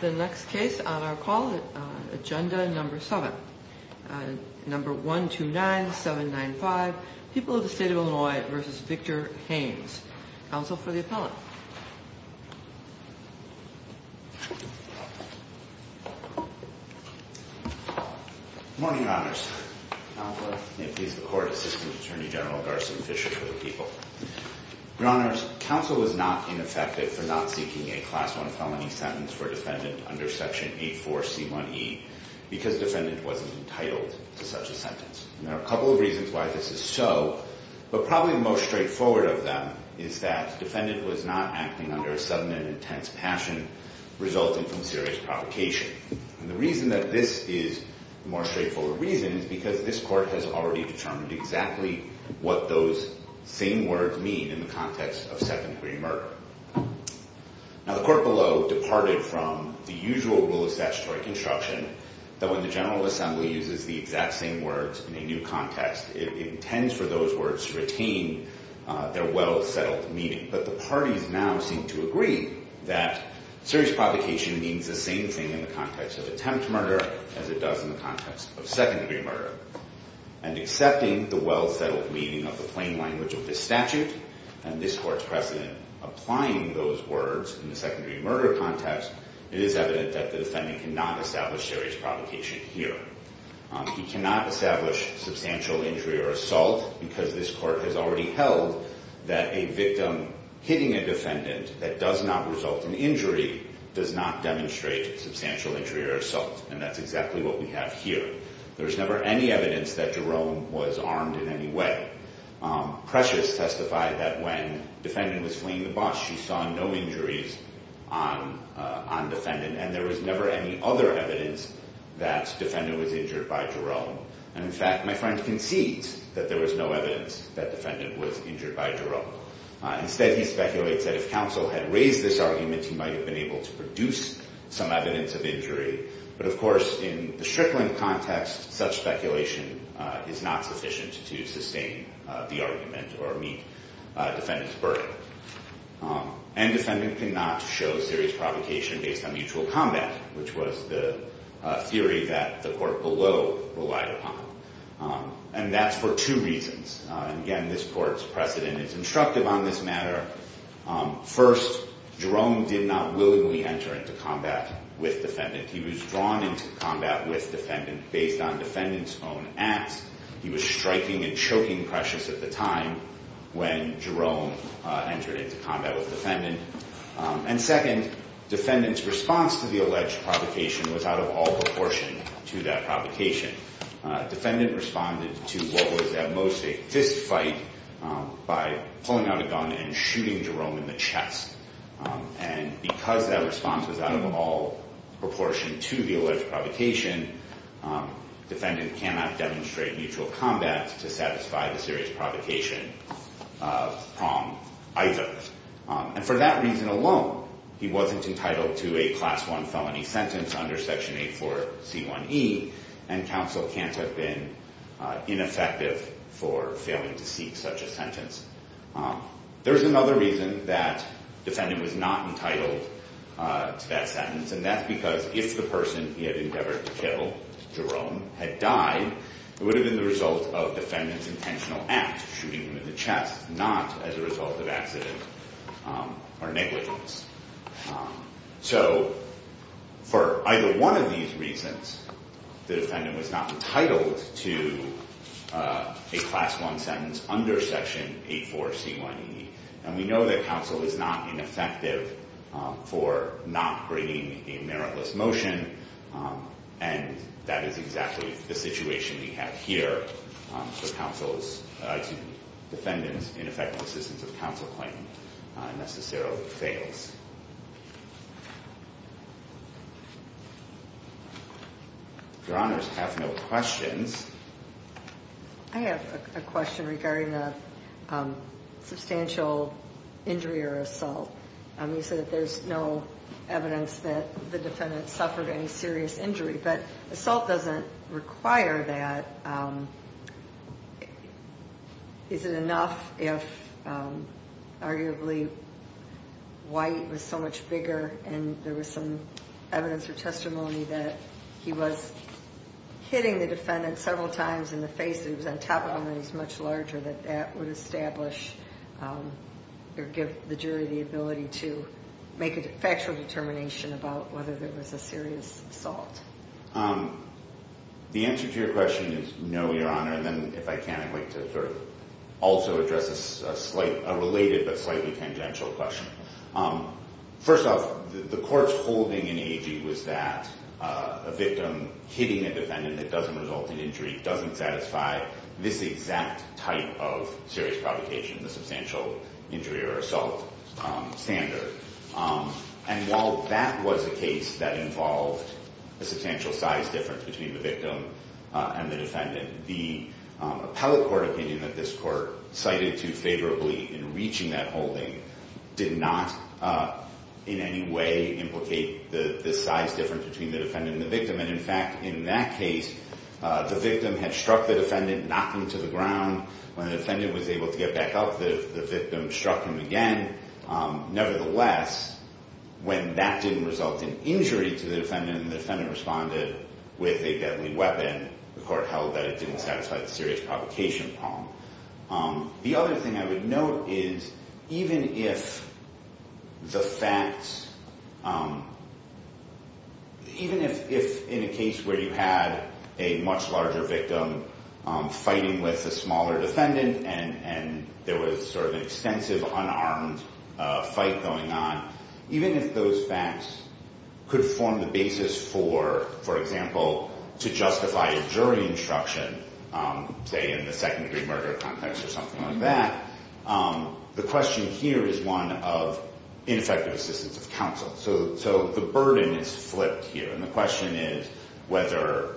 The next case on our call, Agenda No. 7. No. 129795, People of the State of Illinois v. Victor Haynes. Counsel for the appellant. Good morning, Your Honors. Counselor. May it please the Court, Assistant Attorney General Garson Fisher for the people. Your Honors, Counsel was not ineffective for not seeking a Class I felony sentence for defendant under Section 84C1E because defendant wasn't entitled to such a sentence. There are a couple of reasons why this is so, but probably the most straightforward of them is that defendant was not acting under a sudden and intense passion resulting from serious provocation. And the reason that this is the more straightforward reason is because this Court has already determined exactly what those same words mean in the context of second degree murder. Now, the Court below departed from the usual rule of statutory construction that when the General Assembly uses the exact same words in a new context, it intends for those words to retain their well-settled meaning. But the parties now seem to agree that serious provocation means the same thing in the context of attempt murder as it does in the context of second degree murder. And accepting the well-settled meaning of the plain language of this statute and this Court's precedent applying those words in the second degree murder context, it is evident that the defendant cannot establish serious provocation here. He cannot establish substantial injury or assault because this Court has already held that a victim hitting a defendant that does not result in injury does not demonstrate substantial injury or assault. And that's exactly what we have here. There's never any evidence that Jerome was armed in any way. Precious testified that when the defendant was fleeing the bus, she saw no injuries on the defendant. And there was never any other evidence that the defendant was injured by Jerome. And, in fact, my friend concedes that there was no evidence that the defendant was injured by Jerome. Instead, he speculates that if counsel had raised this argument, he might have been able to produce some evidence of injury. But, of course, in the Strickland context, such speculation is not sufficient to sustain the argument or meet defendant's burden. And defendant cannot show serious provocation based on mutual combat, which was the theory that the Court below relied upon. And that's for two reasons. Again, this Court's precedent is instructive on this matter. First, Jerome did not willingly enter into combat with defendant. He was drawn into combat with defendant based on defendant's own acts. He was striking and choking Precious at the time when Jerome entered into combat with defendant. And, second, defendant's response to the alleged provocation was out of all proportion to that provocation. Defendant responded to what was at most a fistfight by pulling out a gun and shooting Jerome in the chest. And because that response was out of all proportion to the alleged provocation, defendant cannot demonstrate mutual combat to satisfy the serious provocation from either. And for that reason alone, he wasn't entitled to a Class I felony sentence under Section 84C1E. And counsel can't have been ineffective for failing to seek such a sentence. There's another reason that defendant was not entitled to that sentence, and that's because if the person he had endeavored to kill, Jerome, had died, it would have been the result of defendant's intentional act, shooting him in the chest, not as a result of accident or negligence. So for either one of these reasons, the defendant was not entitled to a Class I sentence under Section 84C1E. And we know that counsel is not ineffective for not bringing a meritless motion, and that is exactly the situation we have here. So counsel's defendant's ineffectual assistance of counsel claim necessarily fails. Your Honors have no questions. I have a question regarding the substantial injury or assault. You said that there's no evidence that the defendant suffered any serious injury, but assault doesn't require that. Is it enough if arguably White was so much bigger and there was some evidence or testimony that he was hitting the defendant several times in the face, that he was on top of him and he was much larger, that that would establish or give the jury the ability to make a factual determination about whether there was a serious assault? The answer to your question is no, Your Honor. And then if I can, I'd like to sort of also address a related but slightly tangential question. First off, the court's holding in AG was that a victim hitting a defendant that doesn't result in injury doesn't satisfy this exact type of serious provocation, the substantial injury or assault standard. And while that was a case that involved a substantial size difference between the victim and the defendant, the appellate court opinion that this court cited too favorably in reaching that holding did not in any way implicate the size difference between the defendant and the victim. And in fact, in that case, the victim had struck the defendant, knocked him to the ground. When the defendant was able to get back up, the victim struck him again. Nevertheless, when that didn't result in injury to the defendant and the defendant responded with a deadly weapon, the court held that it didn't satisfy the serious provocation problem. The other thing I would note is even if the facts, even if in a case where you had a much larger victim fighting with a smaller defendant and there was sort of an extensive unarmed fight going on, even if those facts could form the basis for, for example, to justify a jury instruction, say in the second-degree murder context or something like that, the question here is one of ineffective assistance of counsel. So the burden is flipped here. And the question is whether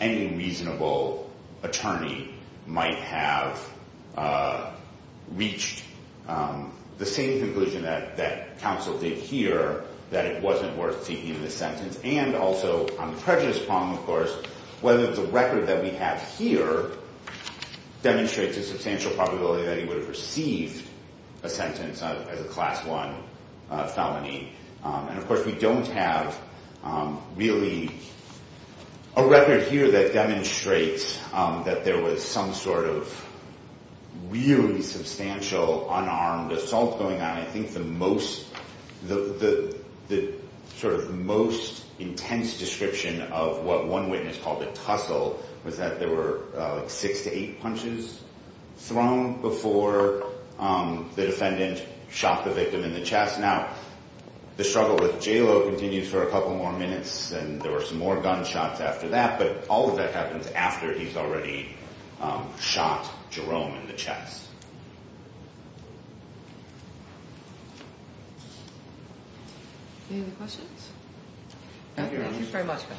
any reasonable attorney might have reached the same conclusion that counsel did here, that it wasn't worth seeking the sentence. And also on the prejudice problem, of course, whether the record that we have here demonstrates a substantial probability that he would have received a sentence as a Class I felony. And of course, we don't have really a record here that demonstrates that there was some sort of really substantial unarmed assault going on. I think the most, the sort of most intense description of what one witness called a tussle was that there were six to eight punches thrown before the defendant shot the victim in the chest. Now, the struggle with JALO continues for a couple more minutes, and there were some more gunshots after that. But all of that happens after he's already shot Jerome in the chest. Any other questions? Thank you very much, guys.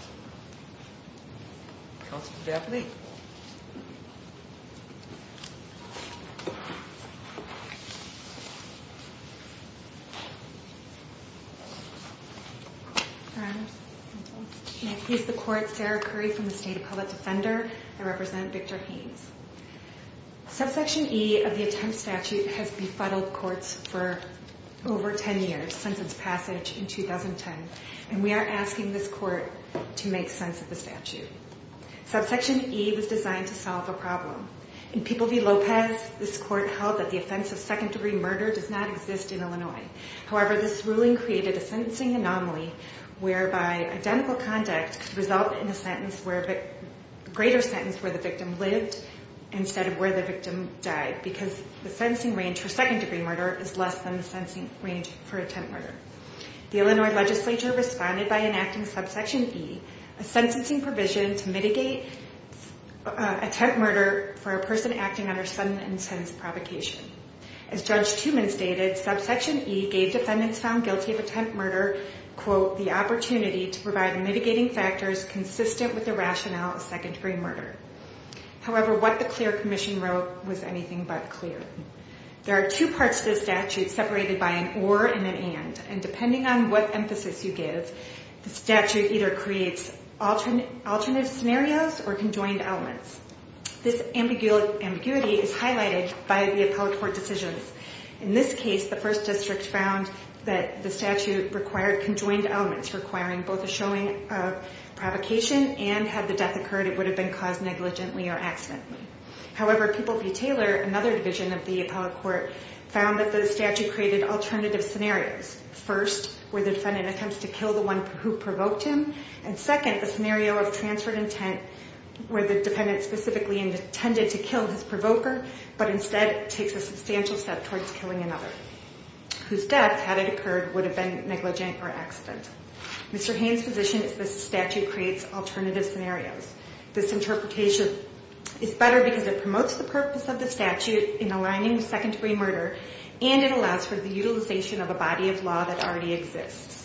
Counselor Daphne? Your Honor, may I please the court? Sarah Curry from the State of Public Defender. I represent Victor Haynes. Subsection E of the attempt statute has befuddled courts for over 10 years, since its passage in 2010. And we are asking this court to make sense of the statute. Subsection E was designed to solve a problem. In People v. Lopez, this court held that the offense of second-degree murder does not exist in Illinois. However, this ruling created a sentencing anomaly whereby identical conduct could result in a greater sentence where the victim lived instead of where the victim died, because the sentencing range for second-degree murder is less than the sentencing range for attempt murder. The Illinois legislature responded by enacting Subsection E, a sentencing provision to mitigate attempt murder for a person acting under sudden and intense provocation. As Judge Tooman stated, Subsection E gave defendants found guilty of attempt murder, quote, the opportunity to provide mitigating factors consistent with the rationale of second-degree murder. However, what the clear commission wrote was anything but clear. There are two parts to the statute separated by an or and an and. And depending on what emphasis you give, the statute either creates alternative scenarios or conjoined elements. This ambiguity is highlighted by the appellate court decisions. In this case, the first district found that the statute required conjoined elements, requiring both a showing of provocation, and had the death occurred, it would have been caused negligently or accidentally. However, People v. Taylor, another division of the appellate court, found that the statute created alternative scenarios. First, where the defendant attempts to kill the one who provoked him. And second, the scenario of transferred intent, where the defendant specifically intended to kill his provoker, but instead takes a substantial step towards killing another, whose death, had it occurred, would have been negligent or accidental. Mr. Haines' position is the statute creates alternative scenarios. This interpretation is better because it promotes the purpose of the statute in aligning with secondary murder, and it allows for the utilization of a body of law that already exists.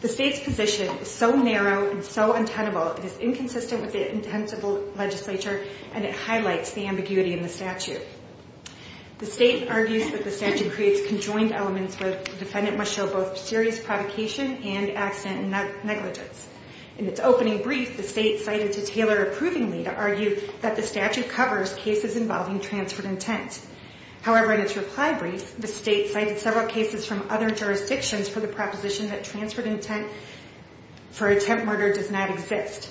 The state's position is so narrow and so untenable, it is inconsistent with the intent of the legislature, and it highlights the ambiguity in the statute. The state argues that the statute creates conjoined elements where the defendant must show both serious provocation and accident negligence. In its opening brief, the state cited to Taylor approvingly to argue that the statute covers cases involving transferred intent. However, in its reply brief, the state cited several cases from other jurisdictions for the proposition that transferred intent for attempt murder does not exist.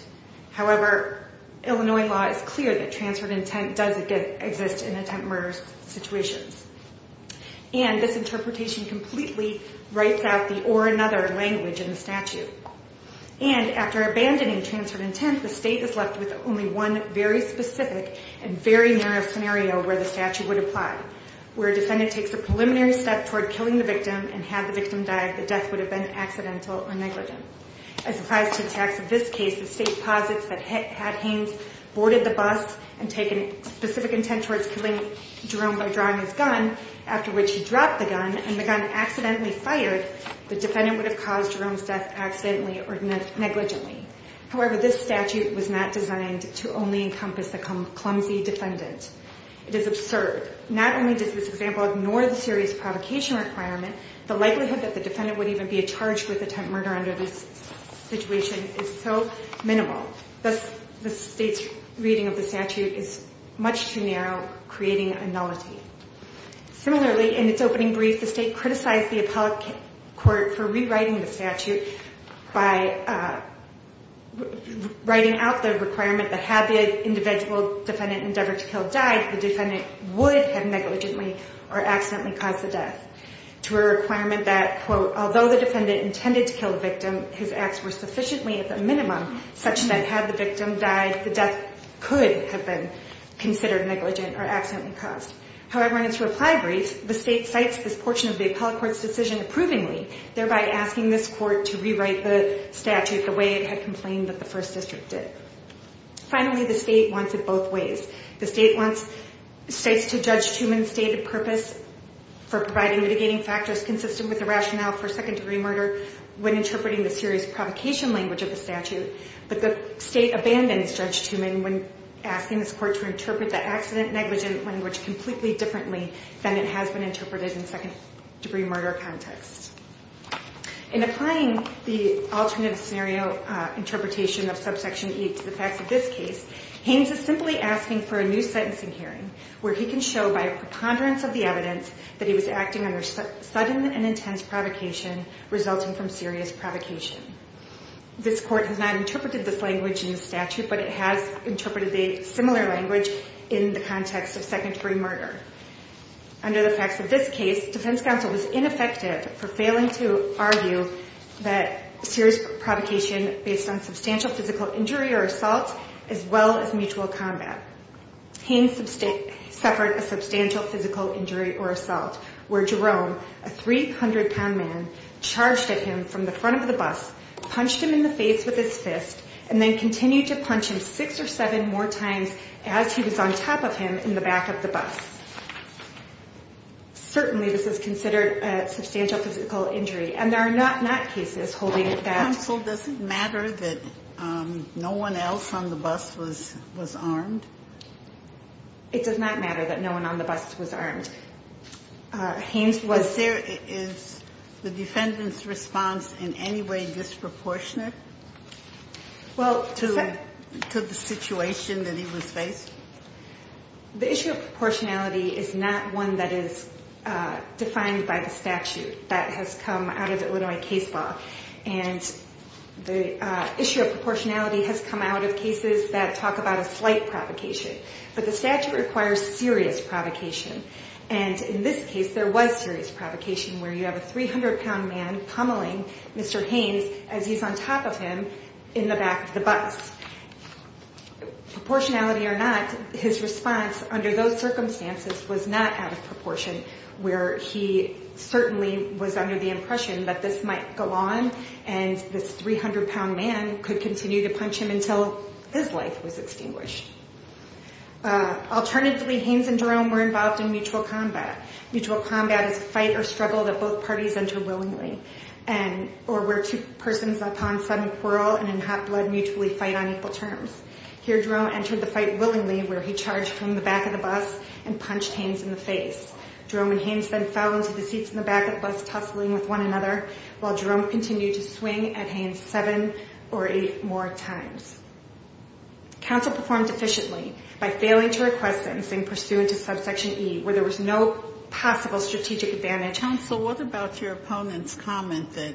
However, Illinois law is clear that transferred intent does exist in attempt murder situations. And this interpretation completely writes out the or another language in the statute. And after abandoning transferred intent, the state is left with only one very specific and very narrow scenario where the statute would apply, where a defendant takes a preliminary step toward killing the victim and had the victim died, the death would have been accidental or negligent. As applies to attacks of this case, the state posits that Hat Haines boarded the bus and taken specific intent towards killing Jerome by drawing his gun, after which he dropped the gun and the gun accidentally fired, the defendant would have caused Jerome's death accidentally or negligently. However, this statute was not designed to only encompass the clumsy defendant. It is absurd. Not only does this example ignore the serious provocation requirement, the likelihood that the defendant would even be charged with attempt murder under this situation is so minimal. Thus, the state's reading of the statute is much too narrow, creating a nullity. Similarly, in its opening brief, the state criticized the appellate court for rewriting the statute by writing out the requirement that had the individual defendant endeavored to kill died, the defendant would have negligently or accidentally caused the death to a requirement that, quote, although the defendant intended to kill the victim, his acts were sufficiently at the minimum such that had the victim died, the death could have been considered negligent or accidentally caused. However, in its reply brief, the state cites this portion of the appellate court's decision approvingly, thereby asking this court to rewrite the statute the way it had complained that the first district did. Finally, the state wants it both ways. The state wants states to judge Tuman's stated purpose for providing mitigating factors consistent with the rationale for second-degree murder when interpreting the serious provocation language of the statute, but the state abandons Judge Tuman when asking this court to interpret the accident-negligent language completely differently than it has been interpreted in second-degree murder context. In applying the alternative scenario interpretation of subsection E to the facts of this case, Haynes is simply asking for a new sentencing hearing where he can show by a preponderance of the evidence that he was acting under sudden and intense provocation resulting from serious provocation. This court has not interpreted this language in the statute, but it has interpreted a similar language in the context of second-degree murder. Under the facts of this case, defense counsel was ineffective for failing to argue that serious provocation based on substantial physical injury or assault as well as mutual combat. Haynes suffered a substantial physical injury or assault where Jerome, a 300-pound man, charged at him from the front of the bus, punched him in the face with his fist, and then continued to punch him six or seven more times as he was on top of him in the back of the bus. Certainly this is considered a substantial physical injury, and there are not cases holding that. Counsel, does it matter that no one else on the bus was armed? It does not matter that no one on the bus was armed. Is the defendant's response in any way disproportionate? Well, to the situation that he was faced? The issue of proportionality is not one that is defined by the statute. That has come out of Illinois case law, and the issue of proportionality has come out of cases that talk about a slight provocation. But the statute requires serious provocation, and in this case there was serious provocation where you have a 300-pound man pummeling Mr. Haynes as he's on top of him in the back of the bus. Proportionality or not, his response under those circumstances was not out of proportion, where he certainly was under the impression that this might go on and this 300-pound man could continue to punch him until his life was extinguished. Alternatively, Haynes and Jerome were involved in mutual combat. Mutual combat is a fight or struggle that both parties enter willingly, or where two persons upon sudden quarrel and in hot blood mutually fight on equal terms. Here, Jerome entered the fight willingly, where he charged from the back of the bus and punched Haynes in the face. Jerome and Haynes then fell into the seats in the back of the bus, tussling with one another, while Jerome continued to swing at Haynes seven or eight more times. Counsel performed efficiently by failing to request things and pursuant to subsection E, where there was no possible strategic advantage. Counsel, what about your opponent's comment that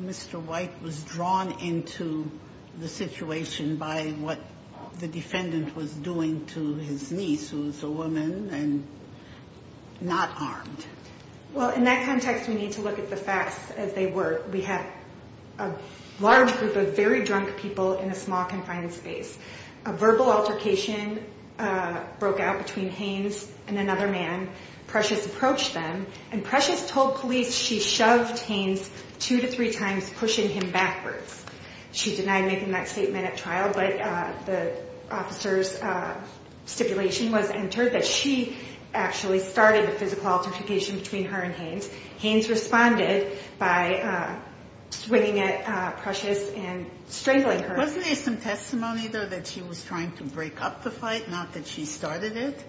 Mr. White was drawn into the situation by what the defendant was doing to his niece, who's a woman and not armed? Well, in that context, we need to look at the facts as they were. We had a large group of very drunk people in a small, confined space. A verbal altercation broke out between Haynes and another man. Precious approached them, and Precious told police she shoved Haynes two to three times, pushing him backwards. She denied making that statement at trial, but the officer's stipulation was entered that she actually started the physical altercation between her and Haynes. Haynes responded by swinging at Precious and strangling her. Wasn't there some testimony, though, that she was trying to break up the fight, not that she started it?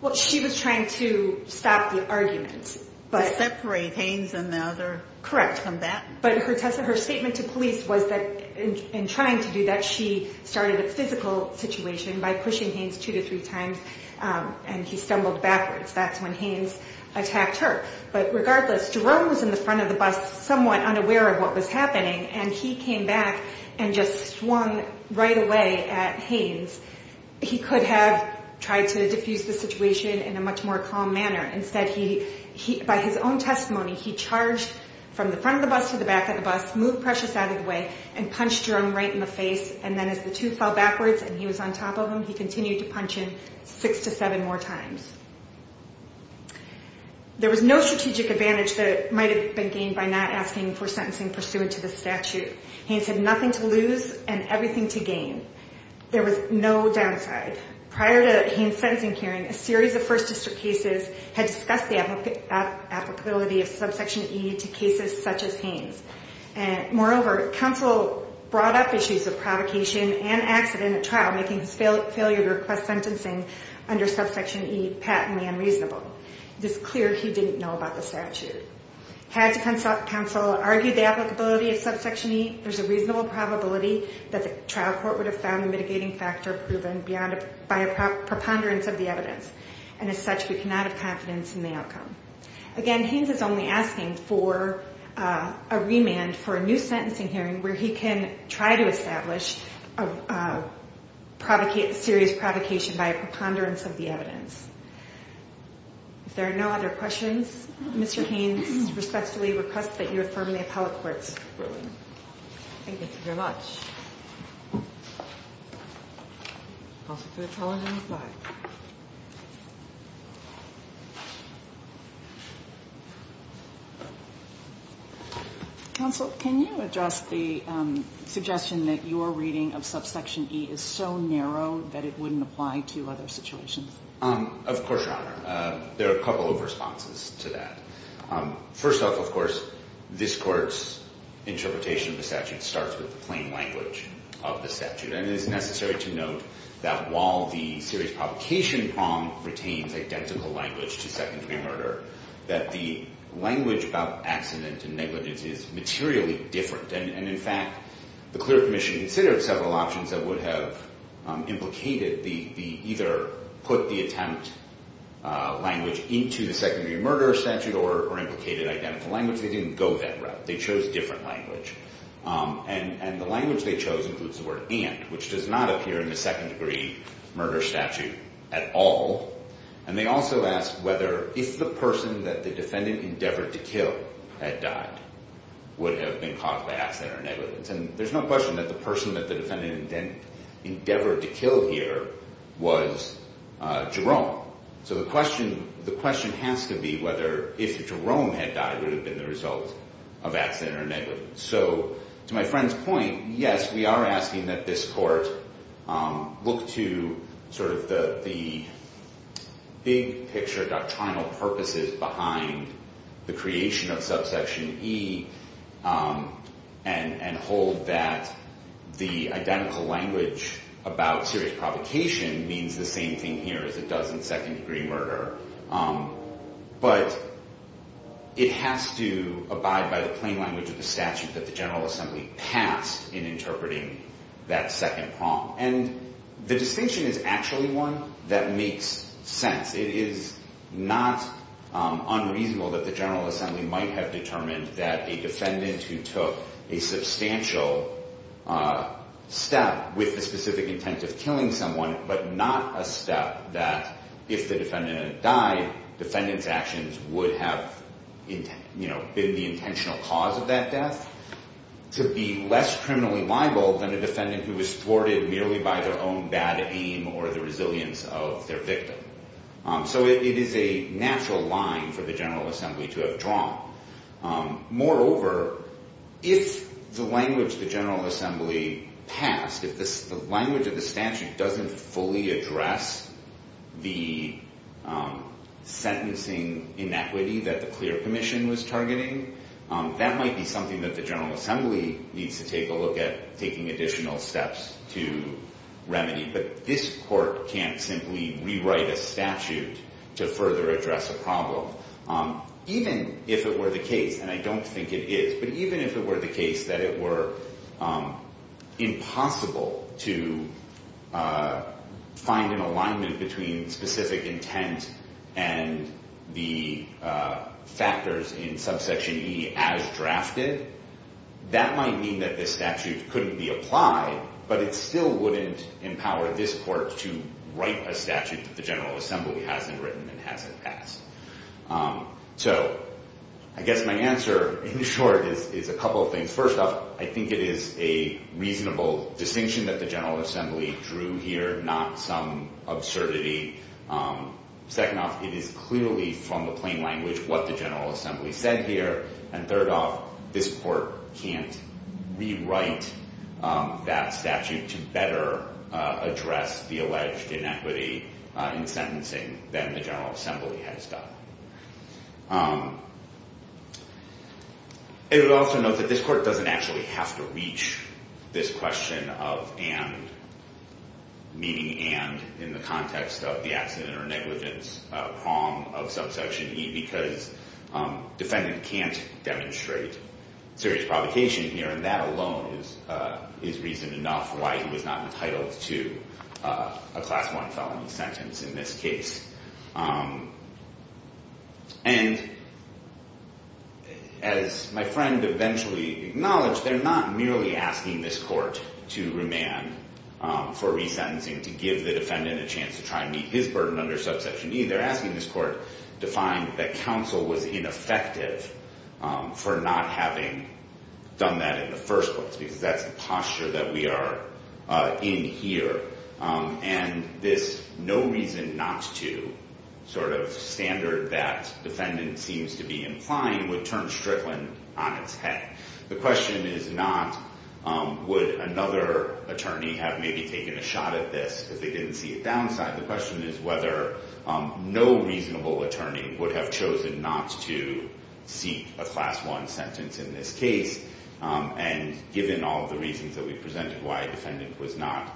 Well, she was trying to stop the argument. To separate Haynes and the other combatant. Correct. But her statement to police was that in trying to do that, she started a physical situation by pushing Haynes two to three times, and he stumbled backwards. That's when Haynes attacked her. But regardless, Jerome was in the front of the bus, somewhat unaware of what was happening, and he came back and just swung right away at Haynes. He could have tried to diffuse the situation in a much more calm manner. Instead, by his own testimony, he charged from the front of the bus to the back of the bus, moved Precious out of the way, and punched Jerome right in the face. And then as the two fell backwards and he was on top of him, he continued to punch him six to seven more times. There was no strategic advantage that might have been gained by not asking for sentencing pursuant to the statute. Haynes had nothing to lose and everything to gain. There was no downside. Prior to Haynes' sentencing hearing, a series of First District cases had discussed the applicability of subsection E to cases such as Haynes. Moreover, counsel brought up issues of provocation and accident at trial, making his failure to request sentencing under subsection E patently unreasonable. It is clear he didn't know about the statute. Had counsel argued the applicability of subsection E, there's a reasonable probability that the trial court would have found a mitigating factor proven by a preponderance of the evidence. And as such, we cannot have confidence in the outcome. Again, Haynes is only asking for a remand for a new sentencing hearing where he can try to establish a serious provocation by a preponderance of the evidence. If there are no other questions, Mr. Haynes respectfully requests that you affirm the appellate court's ruling. Thank you very much. Counsel, can you address the suggestion that your reading of subsection E is so narrow that it wouldn't apply to other situations? Of course, Your Honor. There are a couple of responses to that. First off, of course, this Court's interpretation of the statute starts with the plain language. And it is necessary to note that while the serious provocation prong retains identical language to secondary murder, that the language about accident and negligence is materially different. And in fact, the Clerk Commission considered several options that would have implicated the either put the attempt language into the secondary murder statute or implicated identical language. They didn't go that route. They chose different language. And the language they chose includes the word and, which does not appear in the second-degree murder statute at all. And they also asked whether if the person that the defendant endeavored to kill had died would have been caused by accident or negligence. And there's no question that the person that the defendant endeavored to kill here was Jerome. So the question has to be whether if Jerome had died would have been the result of accident or negligence. So to my friend's point, yes, we are asking that this Court look to sort of the big picture doctrinal purposes behind the creation of subsection E and hold that the identical language about serious provocation means the same thing here as it does in second-degree murder. But it has to abide by the plain language of the statute that the General Assembly passed in interpreting that second prong. And the distinction is actually one that makes sense. It is not unreasonable that the General Assembly might have determined that a defendant who took a substantial step with the specific intent of killing someone, but not a step that if the defendant had died, defendant's actions would have been the intentional cause of that death, to be less criminally liable than a defendant who was thwarted merely by their own bad aim or the resilience of their victim. So it is a natural line for the General Assembly to have drawn. Moreover, if the language the General Assembly passed, if the language of the statute doesn't fully address the sentencing inequity that the clear commission was targeting, that might be something that the General Assembly needs to take a look at taking additional steps to remedy. But this Court can't simply rewrite a statute to further address a problem, even if it were the case, and I don't think it is, but even if it were the case that it were impossible to find an alignment between specific intent and the factors in subsection E as drafted, that might mean that this statute couldn't be applied, but it still wouldn't empower this Court to write a statute that the General Assembly hasn't written and hasn't passed. So I guess my answer, in short, is a couple of things. First off, I think it is a reasonable distinction that the General Assembly drew here, not some absurdity. Second off, it is clearly, from the plain language, what the General Assembly said here. And third off, this Court can't rewrite that statute to better address the alleged inequity in sentencing than the General Assembly has done. I would also note that this Court doesn't actually have to reach this question of and, meaning and in the context of the accident or negligence prom of subsection E, because defendant can't demonstrate serious provocation here, and that alone is reason enough why he was not entitled to a Class I felony sentence in this case. And as my friend eventually acknowledged, they're not merely asking this Court to remand for resentencing, to give the defendant a chance to try and meet his burden under subsection E. They're asking this Court to find that counsel was ineffective for not having done that in the first place, because that's the posture that we are in here. And this no reason not to sort of standard that defendant seems to be implying would turn Strickland on its head. The question is not would another attorney have maybe taken a shot at this if they didn't see a downside. The question is whether no reasonable attorney would have chosen not to seek a Class I sentence in this case. And given all of the reasons that we presented why a defendant was not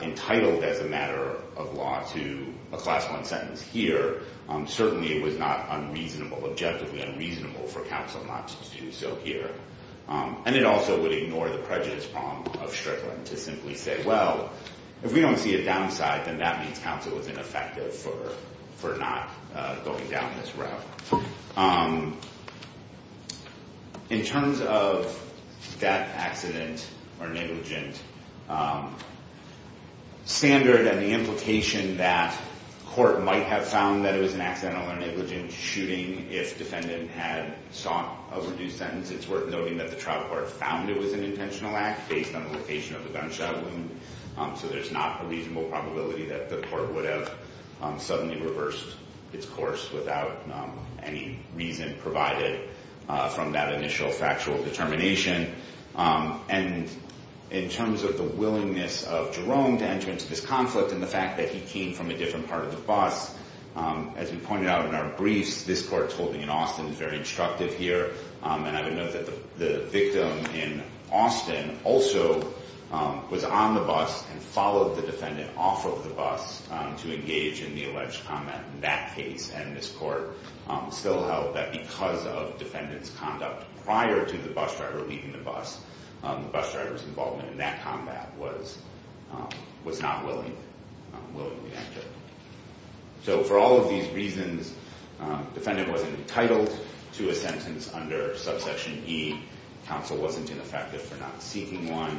entitled as a matter of law to a Class I sentence here, certainly it was not unreasonable, objectively unreasonable for counsel not to do so here. And it also would ignore the prejudice prom of Strickland to simply say, well, if we don't see a downside, then that means counsel was ineffective for not going down this route. In terms of death, accident, or negligent, standard and the implication that court might have found that it was an accidental or negligent shooting if defendant had sought a reduced sentence, it's worth noting that the trial court found it was an intentional act based on the location of the gunshot wound. So there's not a reasonable probability that the court would have suddenly reversed its course without any reason provided from that initial factual determination. And in terms of the willingness of Jerome to enter into this conflict and the fact that he came from a different part of the bus, as we pointed out in our briefs, this court's holding in Austin is very instructive here. And I would note that the victim in Austin also was on the bus and followed the defendant off of the bus to engage in the alleged combat in that case. And this court still held that because of defendant's conduct prior to the bus driver leaving the bus, the bus driver's involvement in that combat was not willingly entered. So for all of these reasons, defendant wasn't entitled to a sentence under subsection E. Counsel wasn't ineffective for not seeking one.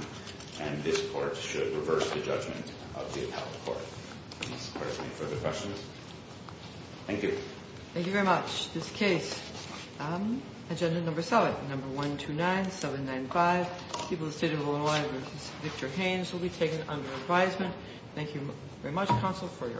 And this court should reverse the judgment of the appellate court. Does this court have any further questions? Thank you. Thank you very much. This case, Agenda Number 7, Number 129795, People of the State of Illinois v. Victor Haynes, will be taken under advisement. Thank you very much, Counsel, for your-